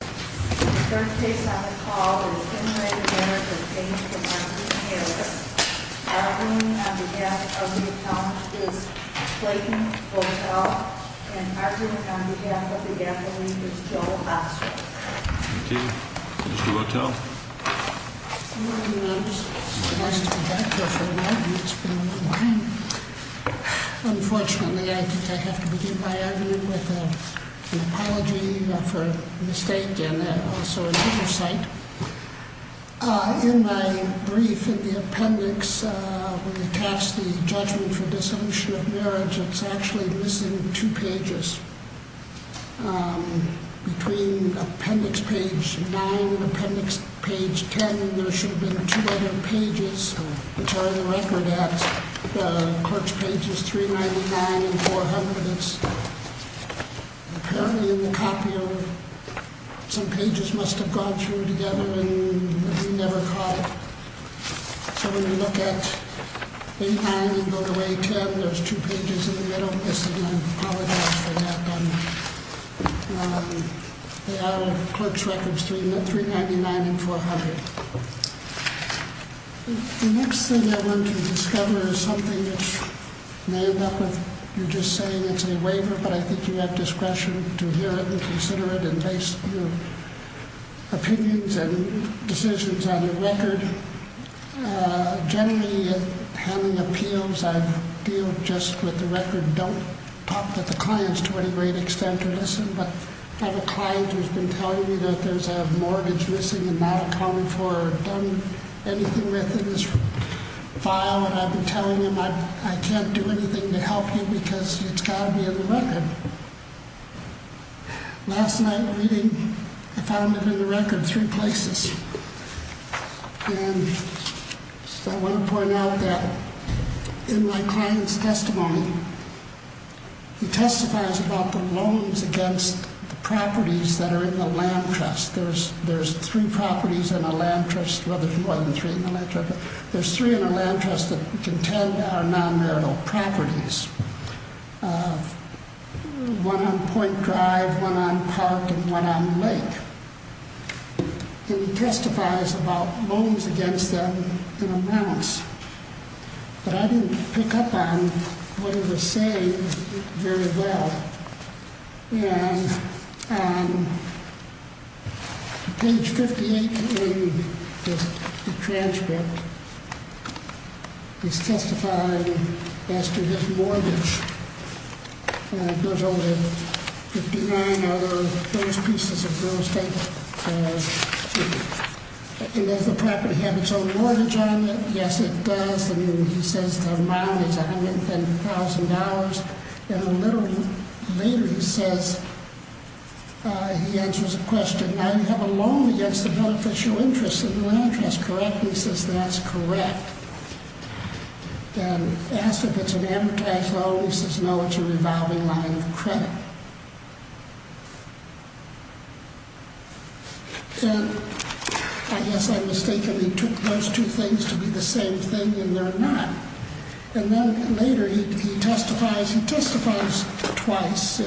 The first case on the call is Henry Harris v. Harris. Arguing on behalf of the account is Clayton Wotel. And arguing on behalf of the gasoline is Joel Oswald. Thank you. Mr. Wotel. Good morning. It's nice to be back here for an argument. It's been a long time. Unfortunately, I think I have to begin my argument with an apology for a mistake and also an oversight. In my brief in the appendix, when you catch the judgment for dissolution of marriage, it's actually missing two pages. Between appendix page 9 and appendix page 10, there should have been two other pages, which are in the record at the clerk's pages 399 and 400. It's apparently in the copy. Some pages must have gone through together and we never caught it. So when you look at 8-9 and go to 8-10, there's two pages in the middle. I apologize for that. They are in the clerk's records 399 and 400. The next thing I want to discover is something that you may end up with. You're just saying it's a waiver, but I think you have discretion to hear it and consider it and base your opinions and decisions on the record. Generally, in handling appeals, I deal just with the record. I don't talk to the clients to any great extent or listen, but I have a client who's been telling me that there's a mortgage missing and not accounted for or done anything with in his file. I've been telling him I can't do anything to help you because it's got to be in the record. Last night reading, I found it in the record three places. I want to point out that in my client's testimony, he testifies about the loans against the properties that are in the land trust. There's three properties in a land trust. There's three in a land trust that contend our non-marital properties. One on Point Drive, one on Park, and one on Lake. He testifies about loans against them in amounts, but I didn't pick up on what he was saying very well. Page 58 in the transcript is testifying as to his mortgage. It goes over $59,000, those pieces of real estate. Does the property have its own mortgage on it? Yes, it does. He says the amount is $110,000. Later he says, he answers a question, now you have a loan against the beneficial interests of the land trust, correct? He says that's correct. Asked if it's an amortized loan. He says no, it's a revolving line of credit. I guess I'm mistaken. He took those two things to be the same thing and they're not. And then later he testifies, he testifies twice.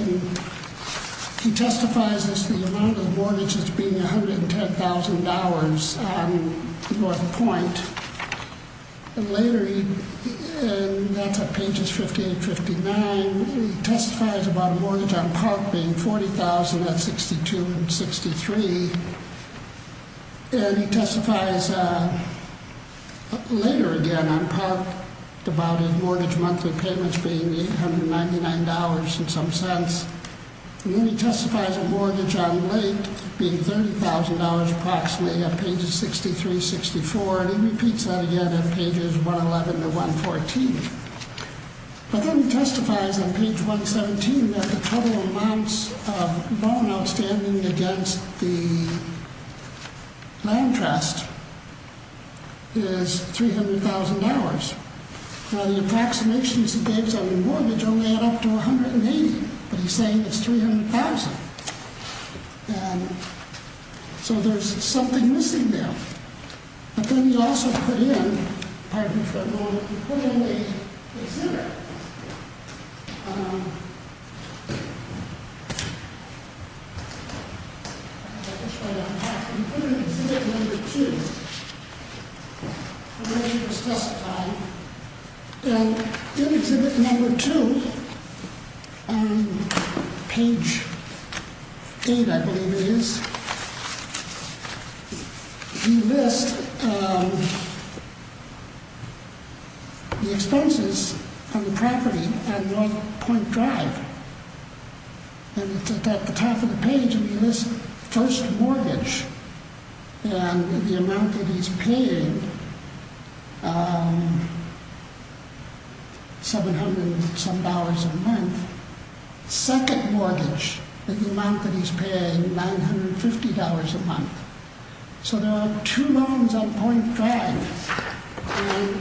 He testifies as to the amount of mortgages being $110,000 on North Point. And later, that's on pages 58 and 59, he testifies about a mortgage on Park being $40,000 on 62 and 63. And he testifies later again on Park about his mortgage monthly payments being $899 in some sense. And then he testifies a mortgage on Lake being $30,000 approximately on pages 63, 64. And he repeats that again on pages 111 to 114. But then he testifies on page 117 that the total amounts of loan outstanding against the land trust is $300,000. Now the approximations he gives on the mortgage only add up to $180,000, but he's saying it's $300,000. So there's something missing there. But then he also put in, pardon me for a moment, he put in the exhibit. He put in exhibit number two. And then he was testifying. In exhibit number two, on page eight I believe it is, he lists the expenses on the property on North Point Drive. And it's at the top of the page where he lists first mortgage and the amount that he's paying, $700 some dollars a month. Second mortgage, the amount that he's paying, $950 a month. So there are two loans on Point Drive. And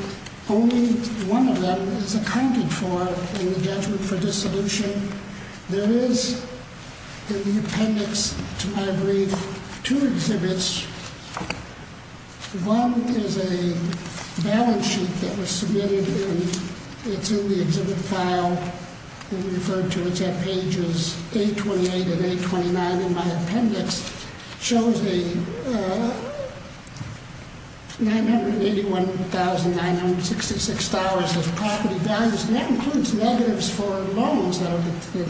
only one of them is accounted for in the judgment for dissolution. There is in the appendix to my brief two exhibits. One is a balance sheet that was submitted and it's in the exhibit file. It's referred to, it's at pages 828 and 829 in my appendix. It shows $981,966 of property values. And that includes negatives for loans that are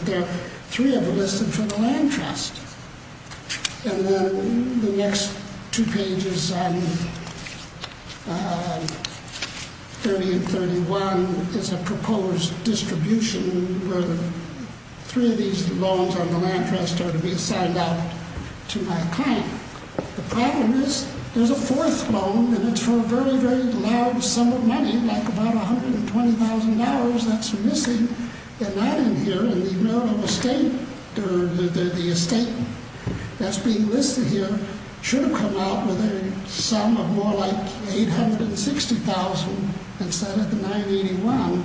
there. Three of them listed for the land trust. And then the next two pages, 30 and 31, is a proposed distribution where three of these loans on the land trust are to be assigned out to my client. The problem is there's a fourth loan and it's for a very, very large sum of money, like about $120,000 that's missing. They're not in here and the estate that's being listed here should have come out with a sum of more like $860,000 instead of the $981,000.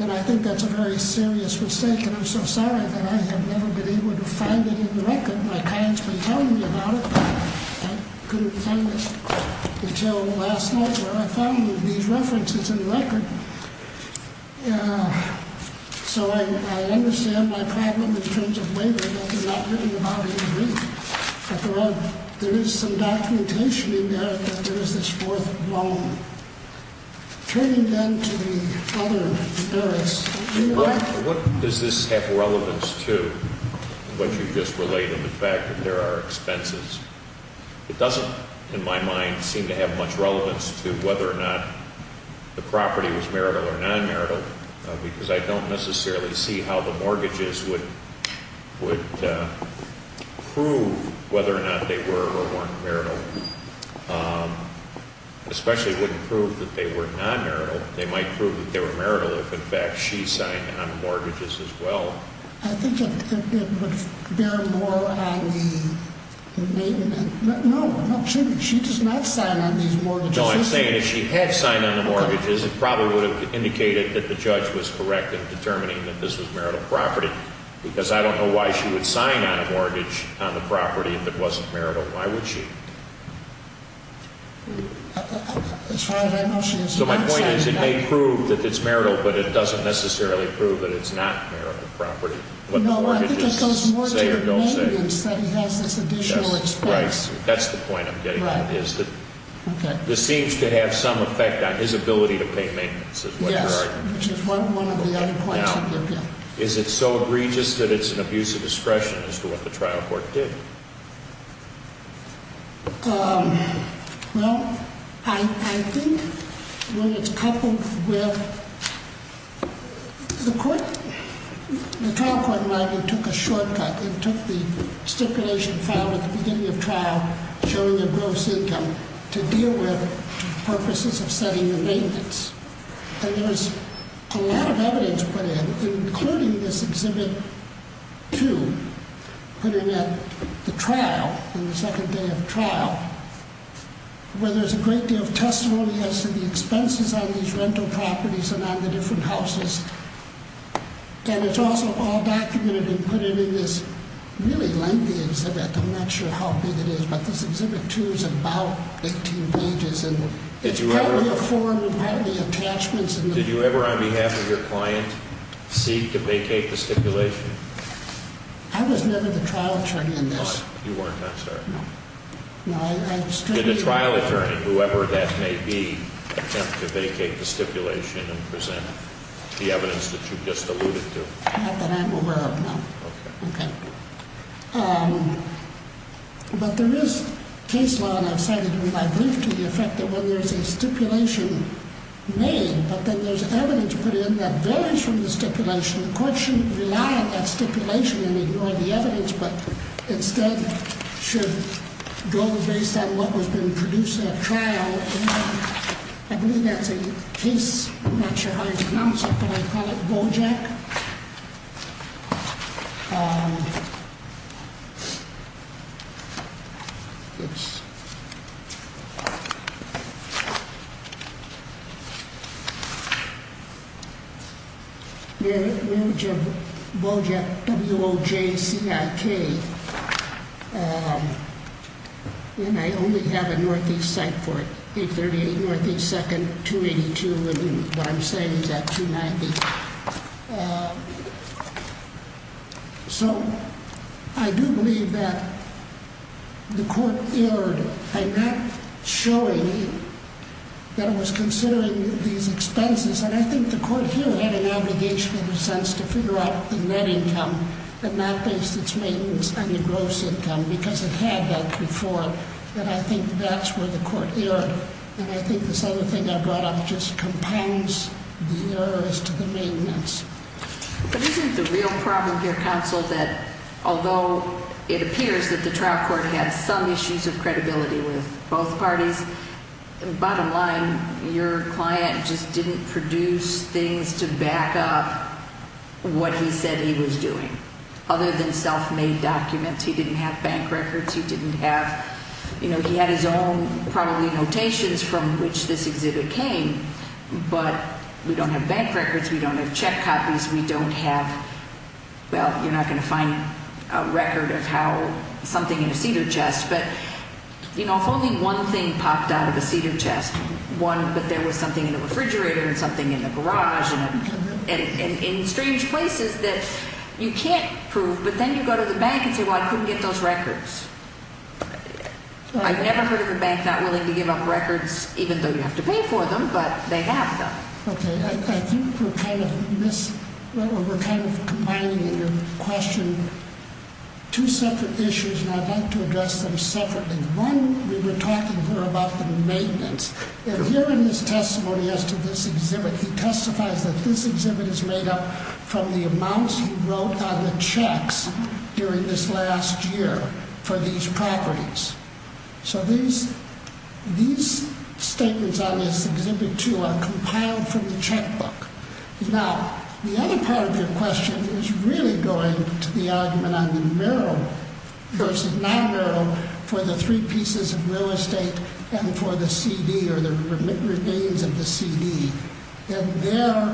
And I think that's a very serious mistake and I'm so sorry that I have never been able to find it in the record. My client's been telling me about it. I couldn't find it until last night where I found these references in the record. So I understand my problem in terms of waiver, but they're not written about in the record. But there is some documentation in there that there is this fourth loan. Turning then to the other areas, you might- What does this have relevance to, what you just related, the fact that there are expenses? It doesn't, in my mind, seem to have much relevance to whether or not the property was marital or non-marital because I don't necessarily see how the mortgages would prove whether or not they were or weren't marital. It especially wouldn't prove that they were non-marital. They might prove that they were marital if, in fact, she signed on the mortgages as well. I think it would bear more on the- No, I'm not sure that she does not sign on these mortgages. No, I'm saying if she had signed on the mortgages, it probably would have indicated that the judge was correct in determining that this was marital property because I don't know why she would sign on a mortgage on the property if it wasn't marital. Why would she? That's right. I know she does not sign on that. So my point is it may prove that it's marital, but it doesn't necessarily prove that it's not marital property. No, I think it goes more to the maintenance that he has this additional expense. That's the point I'm getting at is that this seems to have some effect on his ability to pay maintenance is what you're arguing. Yes, which is one of the other points of your bill. Now, is it so egregious that it's an abuse of discretion as to what the trial court did? Well, I think when it's coupled with the court, the trial court might have took a shortcut. It took the stipulation filed at the beginning of trial showing a gross income to deal with purposes of setting the maintenance. And there's a lot of evidence put in, including this Exhibit 2, put in at the trial on the second day of trial, where there's a great deal of testimony as to the expenses on these rental properties and on the different houses. And it's also all documented and put in in this really lengthy exhibit. I'm not sure how big it is, but this Exhibit 2 is about 18 pages. And it's partly a form and partly attachments. Did you ever, on behalf of your client, seek to vacate the stipulation? I was never the trial attorney in this. You weren't, I'm sorry. No. Did the trial attorney, whoever that may be, attempt to vacate the stipulation and present the evidence that you just alluded to? Not that I'm aware of, no. Okay. Okay. But there is case law, and I've cited it in my brief, to the effect that when there's a stipulation made, but then there's evidence put in that varies from the stipulation, the court shouldn't rely on that stipulation and ignore the evidence, but instead should go based on what has been produced at trial. I believe that's a case. I'm not sure how you pronounce it, but I call it BOJEC. It's... The image of BOJEC, B-O-J-E-C-I-K. And I only have a Northeast site for it, 838 Northeast 2nd, 282, and what I'm citing is at 290. So I do believe that the court erred by not showing that it was considering these expenses, and I think the court here had an obligation in a sense to figure out the net income and not base its maintenance on the gross income, because it had that before, and I think that's where the court erred. And I think this other thing I brought up just compounds the error as to the maintenance. But isn't the real problem here, counsel, that although it appears that the trial court had some issues of credibility with both parties, bottom line, your client just didn't produce things to back up what he said he was doing. Other than self-made documents, he didn't have bank records, he didn't have, you know, he had his own probably notations from which this exhibit came, but we don't have bank records, we don't have check copies, we don't have, well, you're not going to find a record of how something in a cedar chest, but, you know, if only one thing popped out of a cedar chest, one, but there was something in the refrigerator and something in the garage and in strange places that you can't prove, but then you go to the bank and say, well, I couldn't get those records. I've never heard of a bank not willing to give up records, even though you have to pay for them, but they have them. Okay, I think we're kind of combining in your question two separate issues, and I'd like to address them separately. One, we were talking here about the maintenance, and here in his testimony as to this exhibit, he testifies that this exhibit is made up from the amounts he wrote on the checks during this last year for these properties. So these statements on this exhibit, too, are compiled from the checkbook. Now, the other part of your question is really going to the argument on the mural, versus not mural, for the three pieces of real estate and for the CD or the remains of the CD. And there,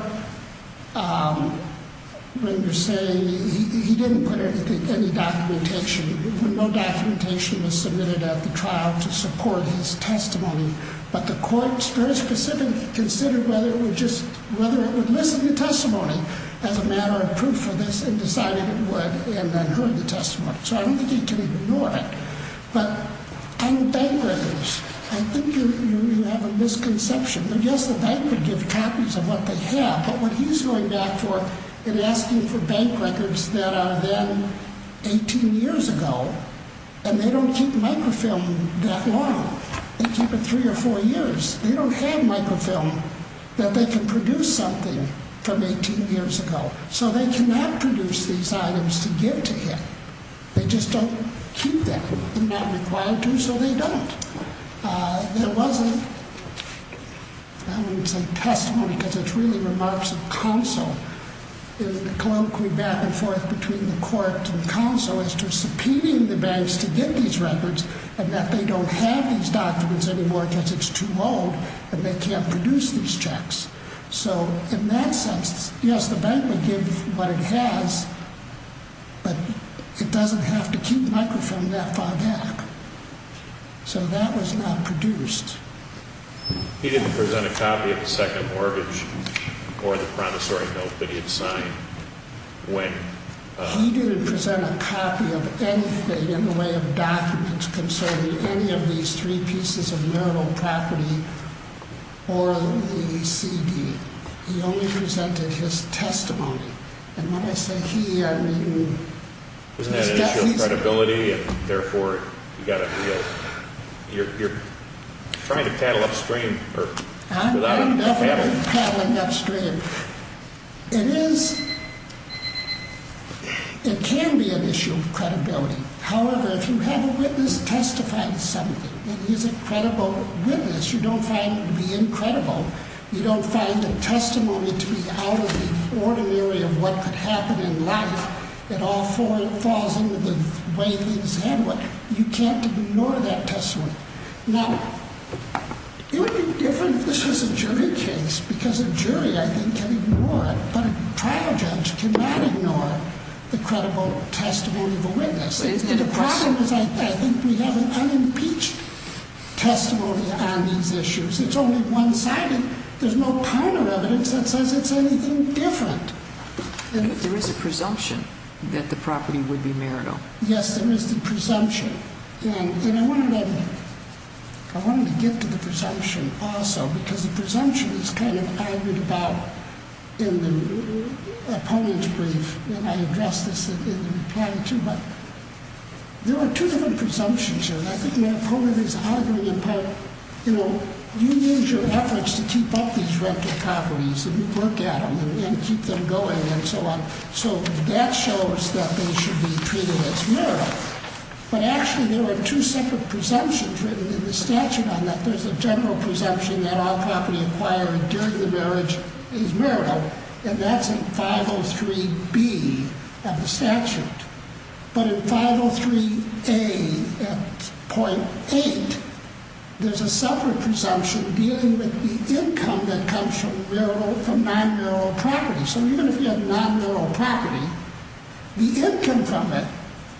when you're saying he didn't put any documentation, no documentation was submitted at the trial to support his testimony, but the court very specifically considered whether it would listen to testimony as a matter of proof for this and decided it would and then heard the testimony. So I don't think you can ignore it. But on bank records, I think you have a misconception. Yes, the bank would give copies of what they have, but what he's going back for in asking for bank records that are then 18 years ago, and they don't keep microfilm that long. They keep it three or four years. They don't have microfilm that they can produce something from 18 years ago. So they cannot produce these items to give to him. They just don't keep them. They're not required to, so they don't. There wasn't, I wouldn't say testimony because it's really remarks of counsel in the colloquy back and forth between the court and counsel as to subpoenaing the banks to get these records and that they don't have these documents anymore because it's too old and they can't produce these checks. So in that sense, yes, the bank would give what it has, but it doesn't have to keep microfilm that far back. So that was not produced. He didn't present a copy of the second mortgage or the promissory note that he had signed. He didn't present a copy of anything in the way of documents concerning any of these three pieces of mural property or the CD. He only presented his testimony, and when I say he, I mean... Isn't that an issue of credibility? Therefore, you've got to be able... You're trying to paddle upstream. I'm definitely paddling upstream. It is... It can be an issue of credibility. However, if you have a witness testify to something, and he's a credible witness, you don't find him to be incredible. You don't find a testimony to be out of the ordinary of what could happen in life that all falls into the way things handle it. You can't ignore that testimony. Now, it would be different if this was a jury case, because a jury, I think, can ignore it, but a trial judge cannot ignore the credible testimony of a witness. The problem is I think we have an unimpeached testimony on these issues. It's only one-sided. There's no kind of evidence that says it's anything different. There is a presumption that the property would be marital. Yes, there is the presumption, and I wanted to get to the presumption also, because the presumption is kind of argued about in the opponent's brief, and I addressed this in the reply too, but there are two different presumptions here, and I think my opponent is arguing about, you know, do you use your efforts to keep up these rental properties and work at them and keep them going and so on? So that shows that they should be treated as marital, but actually there are two separate presumptions written in the statute on that. There's a general presumption that all property acquired during the marriage is marital, and that's in 503B of the statute, but in 503A.8, there's a separate presumption dealing with the income that comes from non-marital property. So even if you have non-marital property, the income from it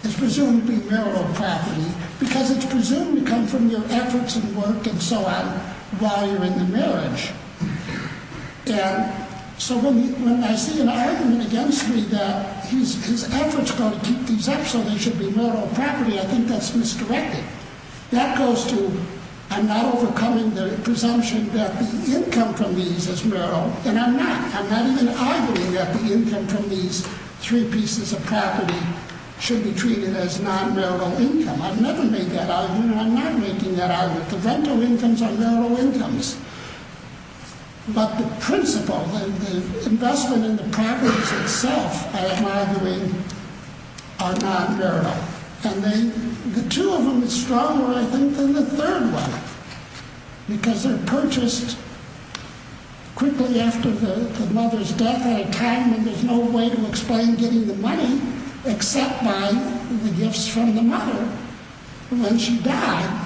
is presumed to be marital property because it's presumed to come from your efforts and work and so on while you're in the marriage. And so when I see an argument against me that his efforts are going to keep these up so they should be marital property, I think that's misdirected. I'm not overcoming the presumption that the income from these is marital, and I'm not. I'm not even arguing that the income from these three pieces of property should be treated as non-marital income. I've never made that argument, and I'm not making that argument. The rental incomes are marital incomes, but the principle and the investment in the properties itself, I am arguing, are non-marital. And the two of them are stronger, I think, than the third one because they're purchased quickly after the mother's death, at a time when there's no way to explain getting the money except by the gifts from the mother when she died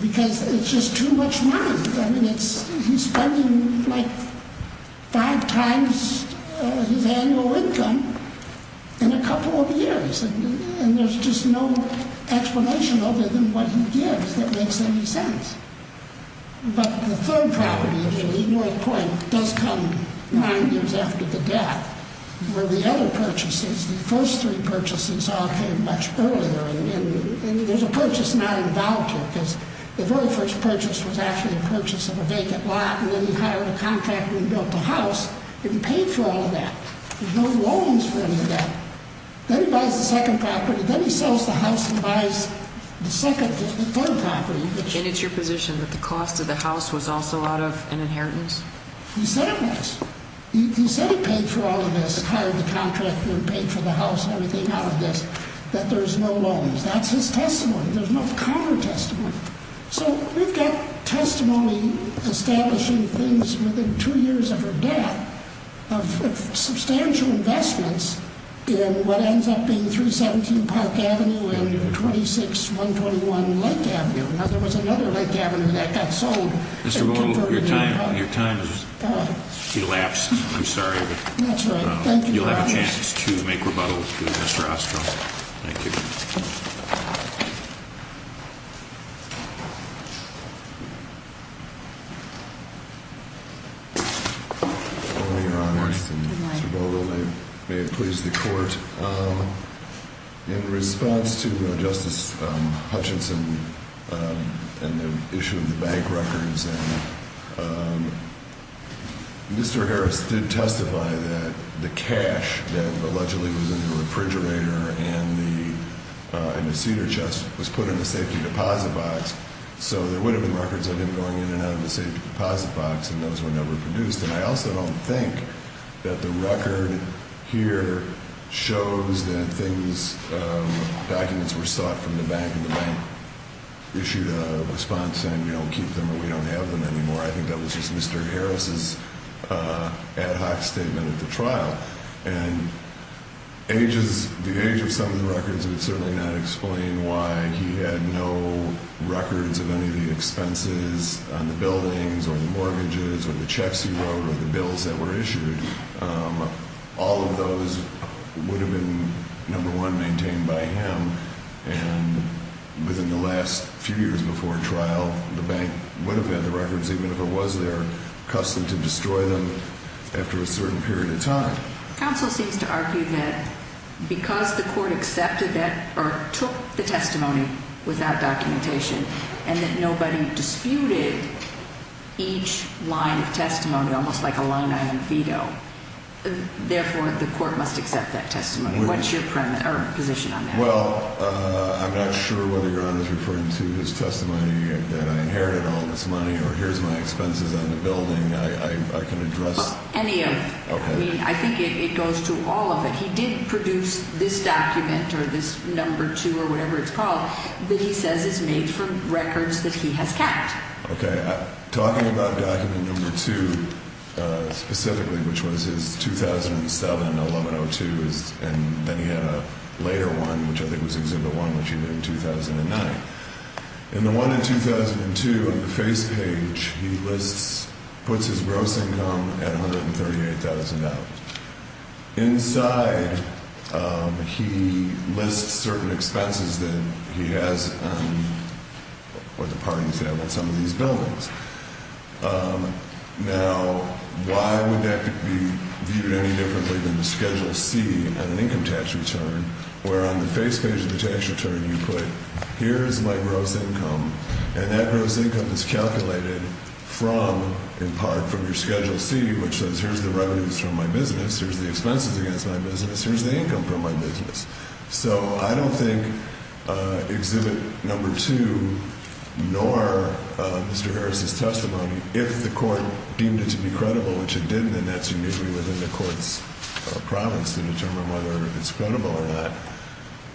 because it's just too much money. I mean, he's spending like five times his annual income in a couple of years. And there's just no explanation other than what he gives that makes any sense. But the third property, which is worth pointing, does come nine years after the death where the other purchases, the first three purchases, all came much earlier. And there's a purchase not involved here because the very first purchase was actually a purchase of a vacant lot and then he hired a contractor and built a house, and he paid for all of that. There's no loans for any of that. Then he buys the second property. Then he sells the house and buys the third property. And it's your position that the cost of the house was also out of an inheritance? He said it was. He said he paid for all of this, hired the contractor and paid for the house and everything out of this, that there's no loans. That's his testimony. There's no counter-testimony. So we've got testimony establishing things within two years of her death of substantial investments in what ends up being 317 Park Avenue and 26-121 Lake Avenue. Now, there was another Lake Avenue that got sold. Mr. Boyle, your time has elapsed. I'm sorry, but you'll have a chance to make rebuttal to Mr. Ostroff. Thank you. Mr. Boyle, may it please the Court. In response to Justice Hutchinson and the issue of the bank records, Mr. Harris did testify that the cash that allegedly was in the refrigerator and the cedar chest was put in the safety deposit box, so there would have been records of him going in and out of the safety deposit box, and those were never produced. And I also don't think that the record here shows that things, documents were sought from the bank, and the bank issued a response saying, we don't keep them or we don't have them anymore. I think that was just Mr. Harris's ad hoc statement at the trial. And the age of some of the records would certainly not explain why he had no records of any of the expenses on the buildings or the mortgages or the checks he wrote or the bills that were issued. All of those would have been, number one, maintained by him, and within the last few years before trial, the bank would have had the records, even if it was their custom to destroy them after a certain period of time. Counsel seems to argue that because the Court accepted that or took the testimony without documentation and that nobody disputed each line of testimony, almost like a line-item veto, therefore the Court must accept that testimony. What's your position on that? Well, I'm not sure whether Your Honor is referring to his testimony that I inherited all this money or here's my expenses on the building. I can address any of it. I mean, I think it goes to all of it. He did produce this document or this number two or whatever it's called that he says is made from records that he has kept. Okay. Talking about document number two specifically, which was his 2007-1102, and then he had a later one, which I think was exhibit one, which he did in 2009. In the one in 2002 on the face page, he lists, puts his gross income at $138,000. Inside, he lists certain expenses that he has or the parties that have on some of these buildings. Now, why would that be viewed any differently than the Schedule C on an income tax return where on the face page of the tax return you put here is my gross income, and that gross income is calculated from, in part, from your Schedule C, which says here's the revenues from my business, here's the expenses against my business, here's the income from my business. So I don't think exhibit number two nor Mr. Harris's testimony, if the court deemed it to be credible, which it didn't, and that's uniquely within the court's province to determine whether it's credible or not,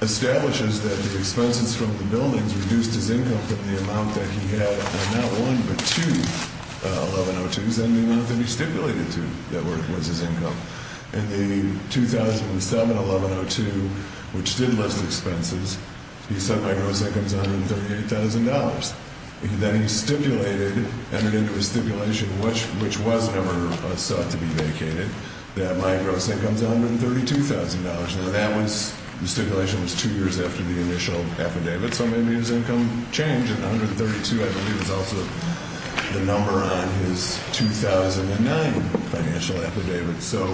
establishes that the expenses from the buildings reduced his income from the amount that he had not one but two 1102s and the amount that he stipulated to that was his income. In the 2007 1102, which did list expenses, he said my gross income is $138,000. Then he stipulated, entered into a stipulation, which was never sought to be vacated, that my gross income is $132,000. Now, that stipulation was two years after the initial affidavit, so maybe his income changed, and 132, I believe, is also the number on his 2009 financial affidavit. So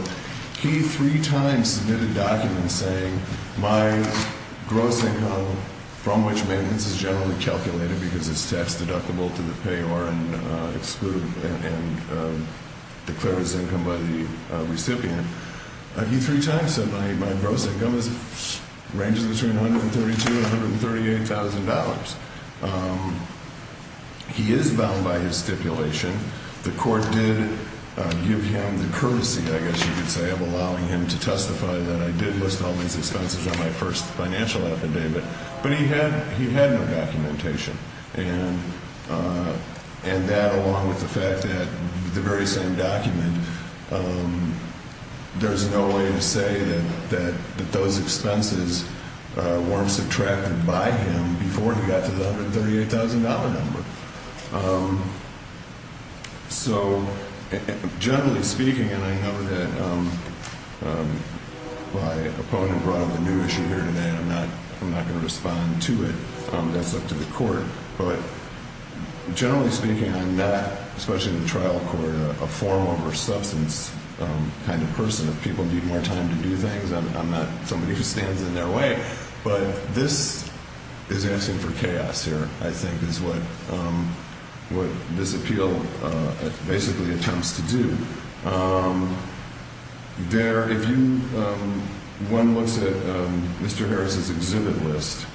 he three times submitted documents saying my gross income from which maintenance is generally calculated because it's tax-deductible to the payer and declared as income by the recipient. He three times said my gross income ranges between $132,000 and $138,000. He is bound by his stipulation. The court did give him the courtesy, I guess you could say, of allowing him to testify that I did list all these expenses on my first financial affidavit, but he had no documentation. And that, along with the fact that the very same document, there's no way to say that those expenses weren't subtracted by him before he got to the $138,000 number. So generally speaking, and I know that my opponent brought up a new issue here today, and I'm not going to respond to it. That's up to the court. But generally speaking, I'm not, especially in the trial court, a form over substance kind of person. If people need more time to do things, I'm not somebody who stands in their way. But this is asking for chaos here, I think, is what this appeal basically attempts to do. If one looks at Mr. Harris's exhibit list,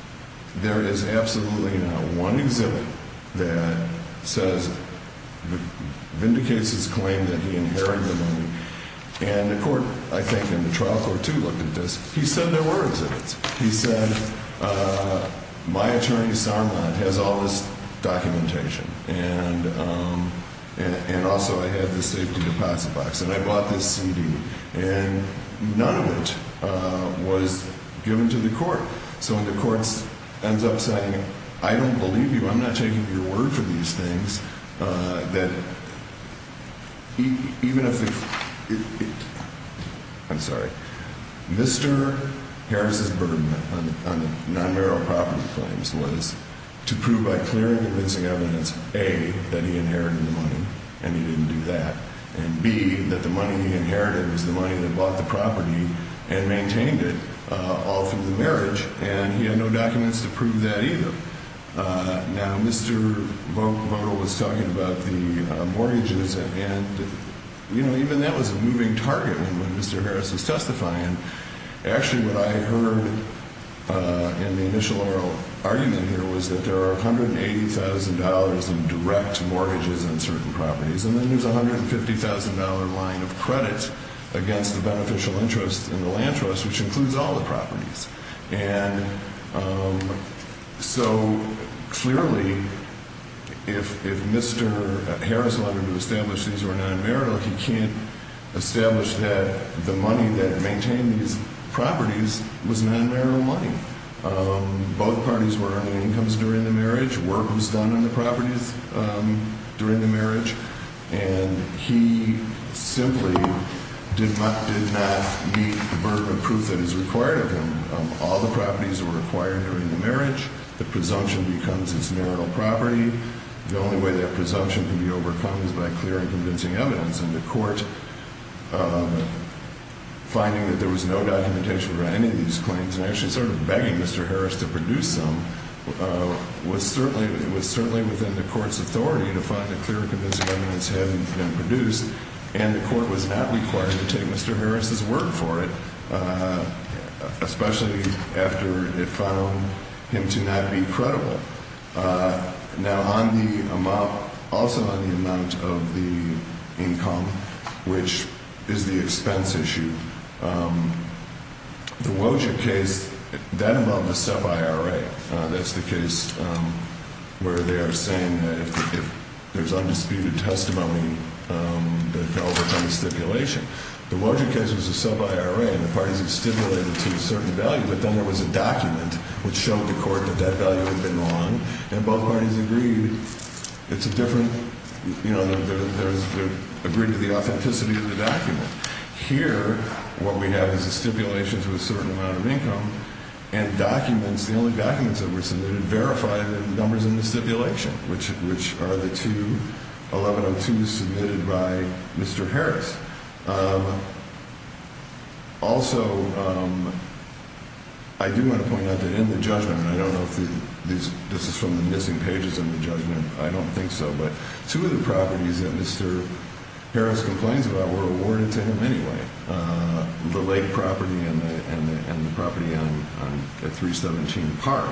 there is absolutely not one exhibit that vindicates his claim that he inherited the money. And the court, I think, in the trial court, too, looked at this. He said there were exhibits. He said, my attorney, Sarmad, has all this documentation. And also I have the safety deposit box. And I bought this CD. And none of it was given to the court. So the court ends up saying, I don't believe you. I'm not taking your word for these things. Mr. Harris's burden on non-marital property claims was to prove by clear and convincing evidence, A, that he inherited the money, and he didn't do that, and B, that the money he inherited was the money that bought the property and maintained it all through the marriage. And he had no documents to prove that either. Now, Mr. Voto was talking about the mortgages. And, you know, even that was a moving target when Mr. Harris was testifying. Actually, what I heard in the initial argument here was that there are $180,000 in direct mortgages on certain properties. And then there's a $150,000 line of credit against the beneficial interest in the land trust, which includes all the properties. And so, clearly, if Mr. Harris wanted to establish these were non-marital, he can't establish that the money that maintained these properties was non-marital money. Both parties were earning incomes during the marriage, work was done on the properties during the marriage, and he simply did not meet the burden of proof that is required of him. All the properties were acquired during the marriage. The presumption becomes his marital property. The only way that presumption can be overcome is by clear and convincing evidence. And the Court, finding that there was no documentation regarding any of these claims, and actually sort of begging Mr. Harris to produce some, was certainly within the Court's authority to find a clear and convincing evidence hadn't been produced, and the Court was not required to take Mr. Harris's word for it, especially after it found him to not be credible. Now, also on the amount of the income, which is the expense issue, the Woja case, that involved a sub-I.R.A. That's the case where they are saying that if there's undisputed testimony, that fell within the stipulation. The Woja case was a sub-I.R.A., and the parties had stipulated to a certain value, but then there was a document which showed the Court that that value had been wrong, and both parties agreed it's a different, you know, they agreed to the authenticity of the document. Here, what we have is a stipulation to a certain amount of income, and documents, the only documents that were submitted, verify the numbers in the stipulation, which are the two 1102s submitted by Mr. Harris. Also, I do want to point out that in the judgment, and I don't know if this is from the missing pages in the judgment, I don't think so, but two of the properties that Mr. Harris complains about were awarded to him anyway, the lake property and the property on 317 Park.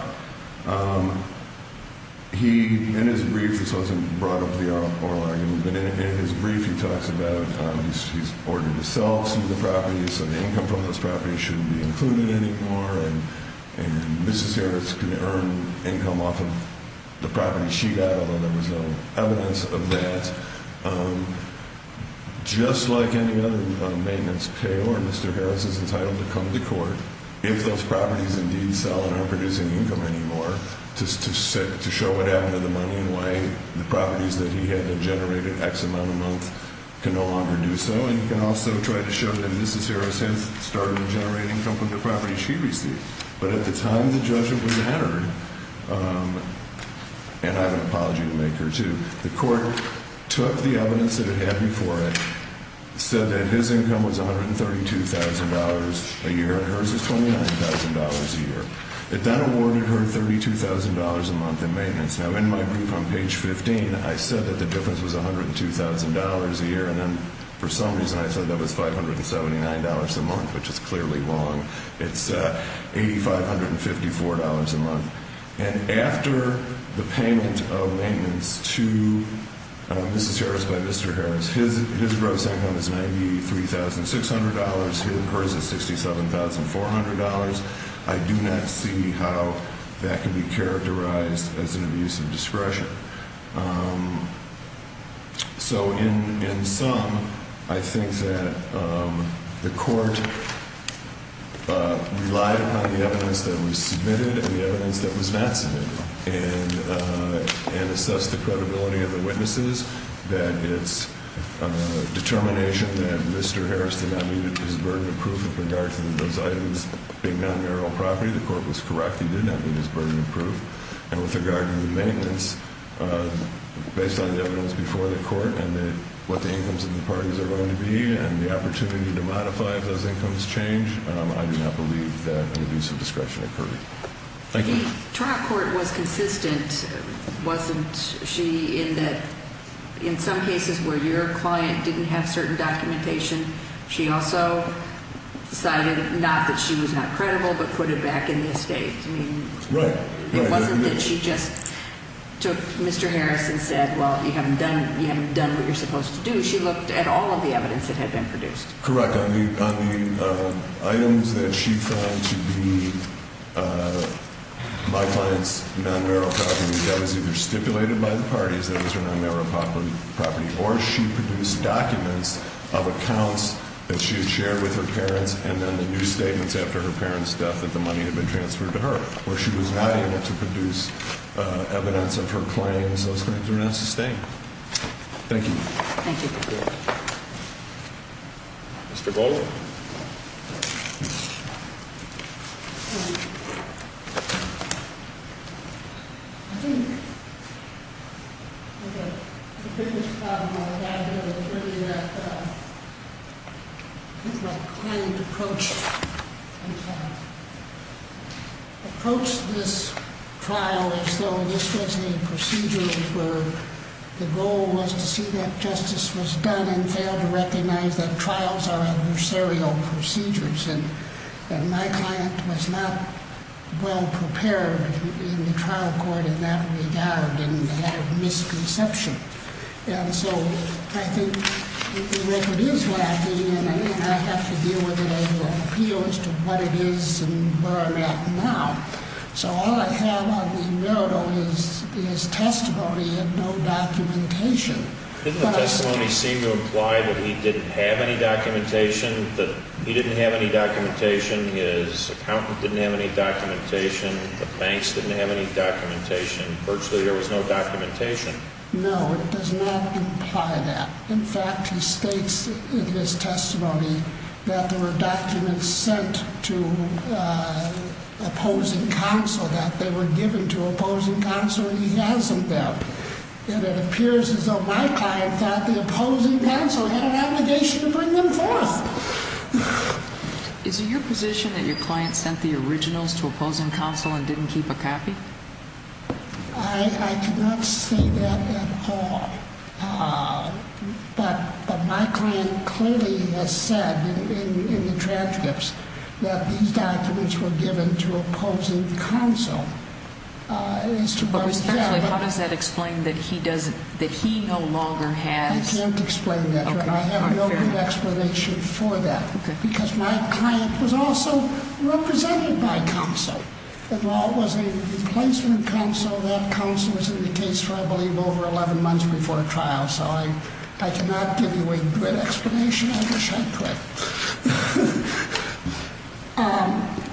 He, in his brief, this wasn't brought up in the oral argument, but in his brief he talks about he's ordered to sell some of the properties, so the income from those properties shouldn't be included anymore, and Mrs. Harris can earn income off of the property she got, although there was no evidence of that. Just like any other maintenance payor, Mr. Harris is entitled to come to court if those properties indeed sell and aren't producing income anymore, to show what happened to the money and why the properties that he had generated X amount a month can no longer do so, and he can also try to show that Mrs. Harris has started to generate income from the property she received, but at the time the judgment was entered, and I have an apology to make here too, the court took the evidence that it had before it, said that his income was $132,000 a year, and hers was $29,000 a year. It then awarded her $32,000 a month in maintenance. Now, in my brief on page 15, I said that the difference was $102,000 a year, and then for some reason I said that was $579 a month, which is clearly wrong. It's $8,554 a month. And after the payment of maintenance to Mrs. Harris by Mr. Harris, his gross income is $93,600, and hers is $67,400. I do not see how that can be characterized as an abuse of discretion. So in sum, I think that the court relied upon the evidence that was submitted and the evidence that was not submitted and assessed the credibility of the witnesses, that it's determination that Mr. Harris did not need his burden of proof with regard to those items being non-marital property. The court was correct. He did not need his burden of proof. And with regard to the maintenance, based on the evidence before the court and what the incomes of the parties are going to be and the opportunity to modify if those incomes change, I do not believe that an abuse of discretion occurred. Thank you. The trial court was consistent, wasn't she, in that in some cases where your client didn't have certain documentation, she also decided not that she was not credible but put it back in the estate. Right. It wasn't that she just took Mr. Harris and said, well, you haven't done what you're supposed to do. She looked at all of the evidence that had been produced. Correct. On the items that she found to be my client's non-marital property, that was either stipulated by the parties that it was her non-marital property or she produced documents of accounts that she had shared with her parents and then the new statements after her parents' death that the money had been transferred to her, where she was not able to produce evidence of her claims. Those things were not sustained. Thank you. Thank you. Mr. Baldwin. I think the biggest problem I have here is really that I think my client approached this trial as though this was a procedure where the goal was to see that justice was done and failed to recognize that trials are adversarial procedures and my client was not well prepared in the trial court in that regard and had a misconception. And so I think the record is lacking and I have to deal with it as an appeal as to what it is and where I'm at now. So all I have on the merit is testimony and no documentation. Doesn't the testimony seem to imply that he didn't have any documentation, that he didn't have any documentation, his accountant didn't have any documentation, the banks didn't have any documentation, virtually there was no documentation? No, it does not imply that. In fact, he states in his testimony that there were documents sent to opposing counsel, that they were given to opposing counsel and he hasn't them. And it appears as though my client thought the opposing counsel had an obligation to bring them forth. Is it your position that your client sent the originals to opposing counsel and didn't keep a copy? I cannot say that at all. But my client clearly has said in the transcripts that these documents were given to opposing counsel. But respectfully, how does that explain that he no longer has? I can't explain that. I have no good explanation for that. Because my client was also represented by counsel. And while it was a replacement counsel, that counsel was in the case for, I believe, over 11 months before trial. So I cannot give you a good explanation. I wish I could.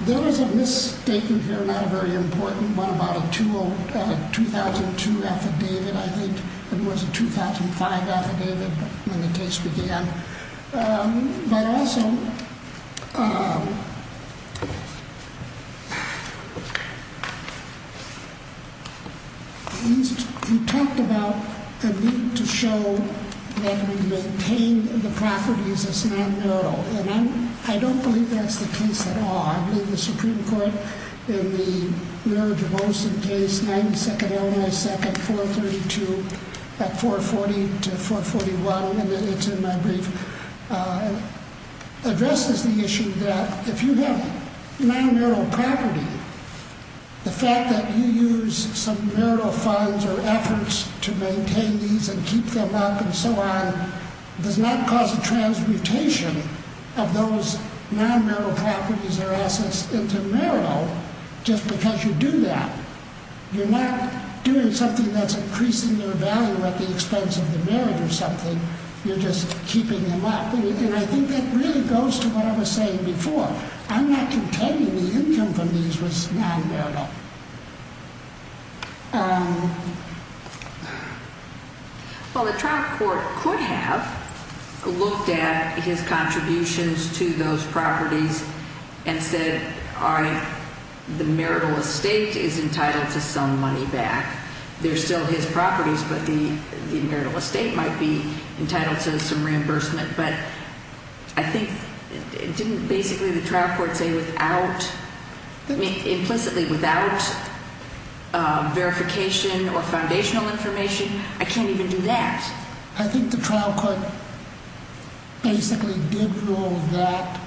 There is a misstatement here, not a very important one, about a 2002 affidavit, I think. It was a 2005 affidavit when the case began. But also, you talked about the need to show that we maintain the properties as non-mural. And I don't believe that's the case at all. I believe the Supreme Court, in the Mary J. Wilson case, 92nd Illinois 2nd, 432, 440 to 441, and it's in my brief, addresses the issue that if you have non-mural property, the fact that you use some marital funds or efforts to maintain these and keep them up and so on, does not cause a transmutation of those non-mural properties or assets into marital just because you do that. You're not doing something that's increasing their value at the expense of the marriage or something. You're just keeping them up. And I think that really goes to what I was saying before. I'm not contending the income from these was non-mural. Well, the trial court could have looked at his contributions to those properties and said, all right, the marital estate is entitled to some money back. They're still his properties, but the marital estate might be entitled to some reimbursement. But I think didn't basically the trial court say without, I mean, implicitly without verification or foundational information, I can't even do that. I think the trial court basically did rule that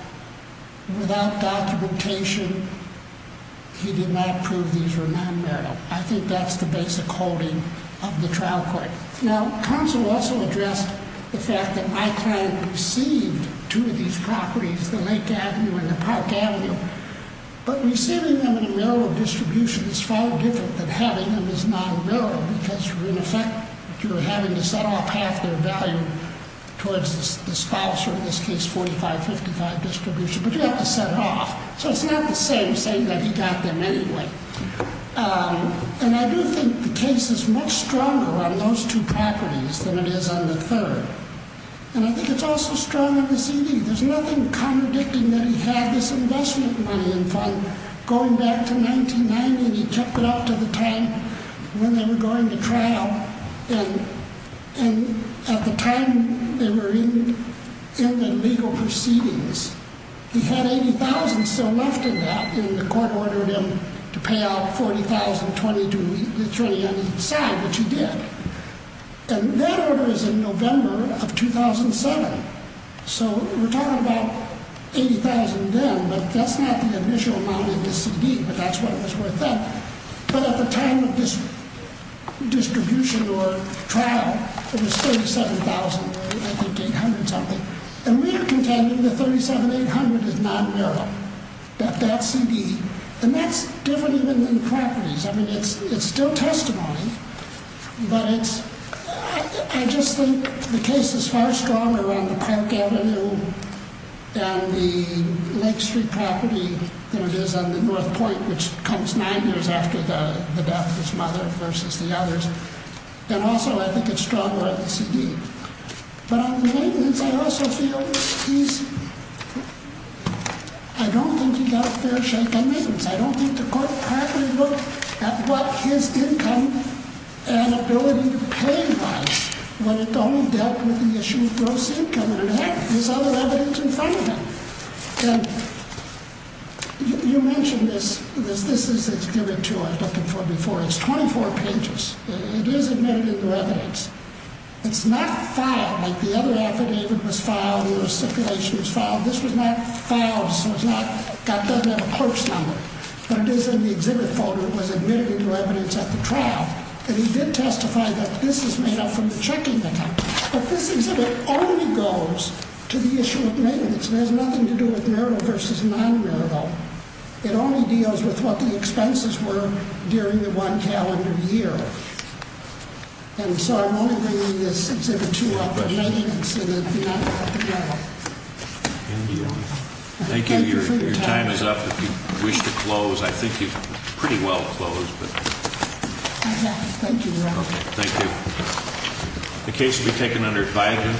without documentation, he did not prove these were non-mural. I think that's the basic holding of the trial court. Now, counsel also addressed the fact that my client received two of these properties, the Lake Avenue and the Park Avenue, but receiving them in a mural distribution is far different than having them as non-mural because, in effect, you're having to set off half their value towards the spousal, in this case, 45-55 distribution. But you have to set it off. So it's not the same saying that he got them anyway. And I do think the case is much stronger on those two properties than it is on the third. And I think it's also strong on the CD. There's nothing contradicting that he had this investment money in fund going back to 1990, and he kept it up to the time when they were going to trial. And at the time they were in the legal proceedings, he had $80,000 still left in that, and the court ordered him to pay out $40,000, $20,000 on each side, which he did. And that order is in November of 2007. So we're talking about $80,000 then, but that's not the initial amount of the CD, but that's what it was worth then. But at the time of this distribution or trial, it was $37,000, I think $800 something. And we are contending that $37,800 is non-mural, that CD. And that's different even than properties. I mean, it's still testimony, but I just think the case is far stronger on the Park Avenue and the Lake Street property than it is on the North Point, which comes nine years after the death of his mother versus the others. And also, I think it's stronger on the CD. But on the maintenance, I also feel he's – I don't think he got a fair shake on maintenance. I don't think the court properly looked at what his income and ability to pay was when it only dealt with the issue of gross income. And it had his other evidence in front of him. And you mentioned this. This is – it's given to him, I was looking for it before. It's 24 pages. It is admitted in the evidence. It's not filed like the other affidavit was filed or the stipulation was filed. This was not filed, so it's not – it doesn't have a clerk's number. But it is in the exhibit folder. It was admitted into evidence at the trial. And he did testify that this is made up from the checking account. But this exhibit only goes to the issue of maintenance. It has nothing to do with marital versus non-marital. It only deals with what the expenses were during the one calendar year. And so I'm only bringing this exhibit two up. The maintenance of the affidavit. Thank you for your time. Thank you. Your time is up if you wish to close. I think you've pretty well closed. I have. Thank you, Your Honor. Okay. Thank you. The case will be taken under advisory.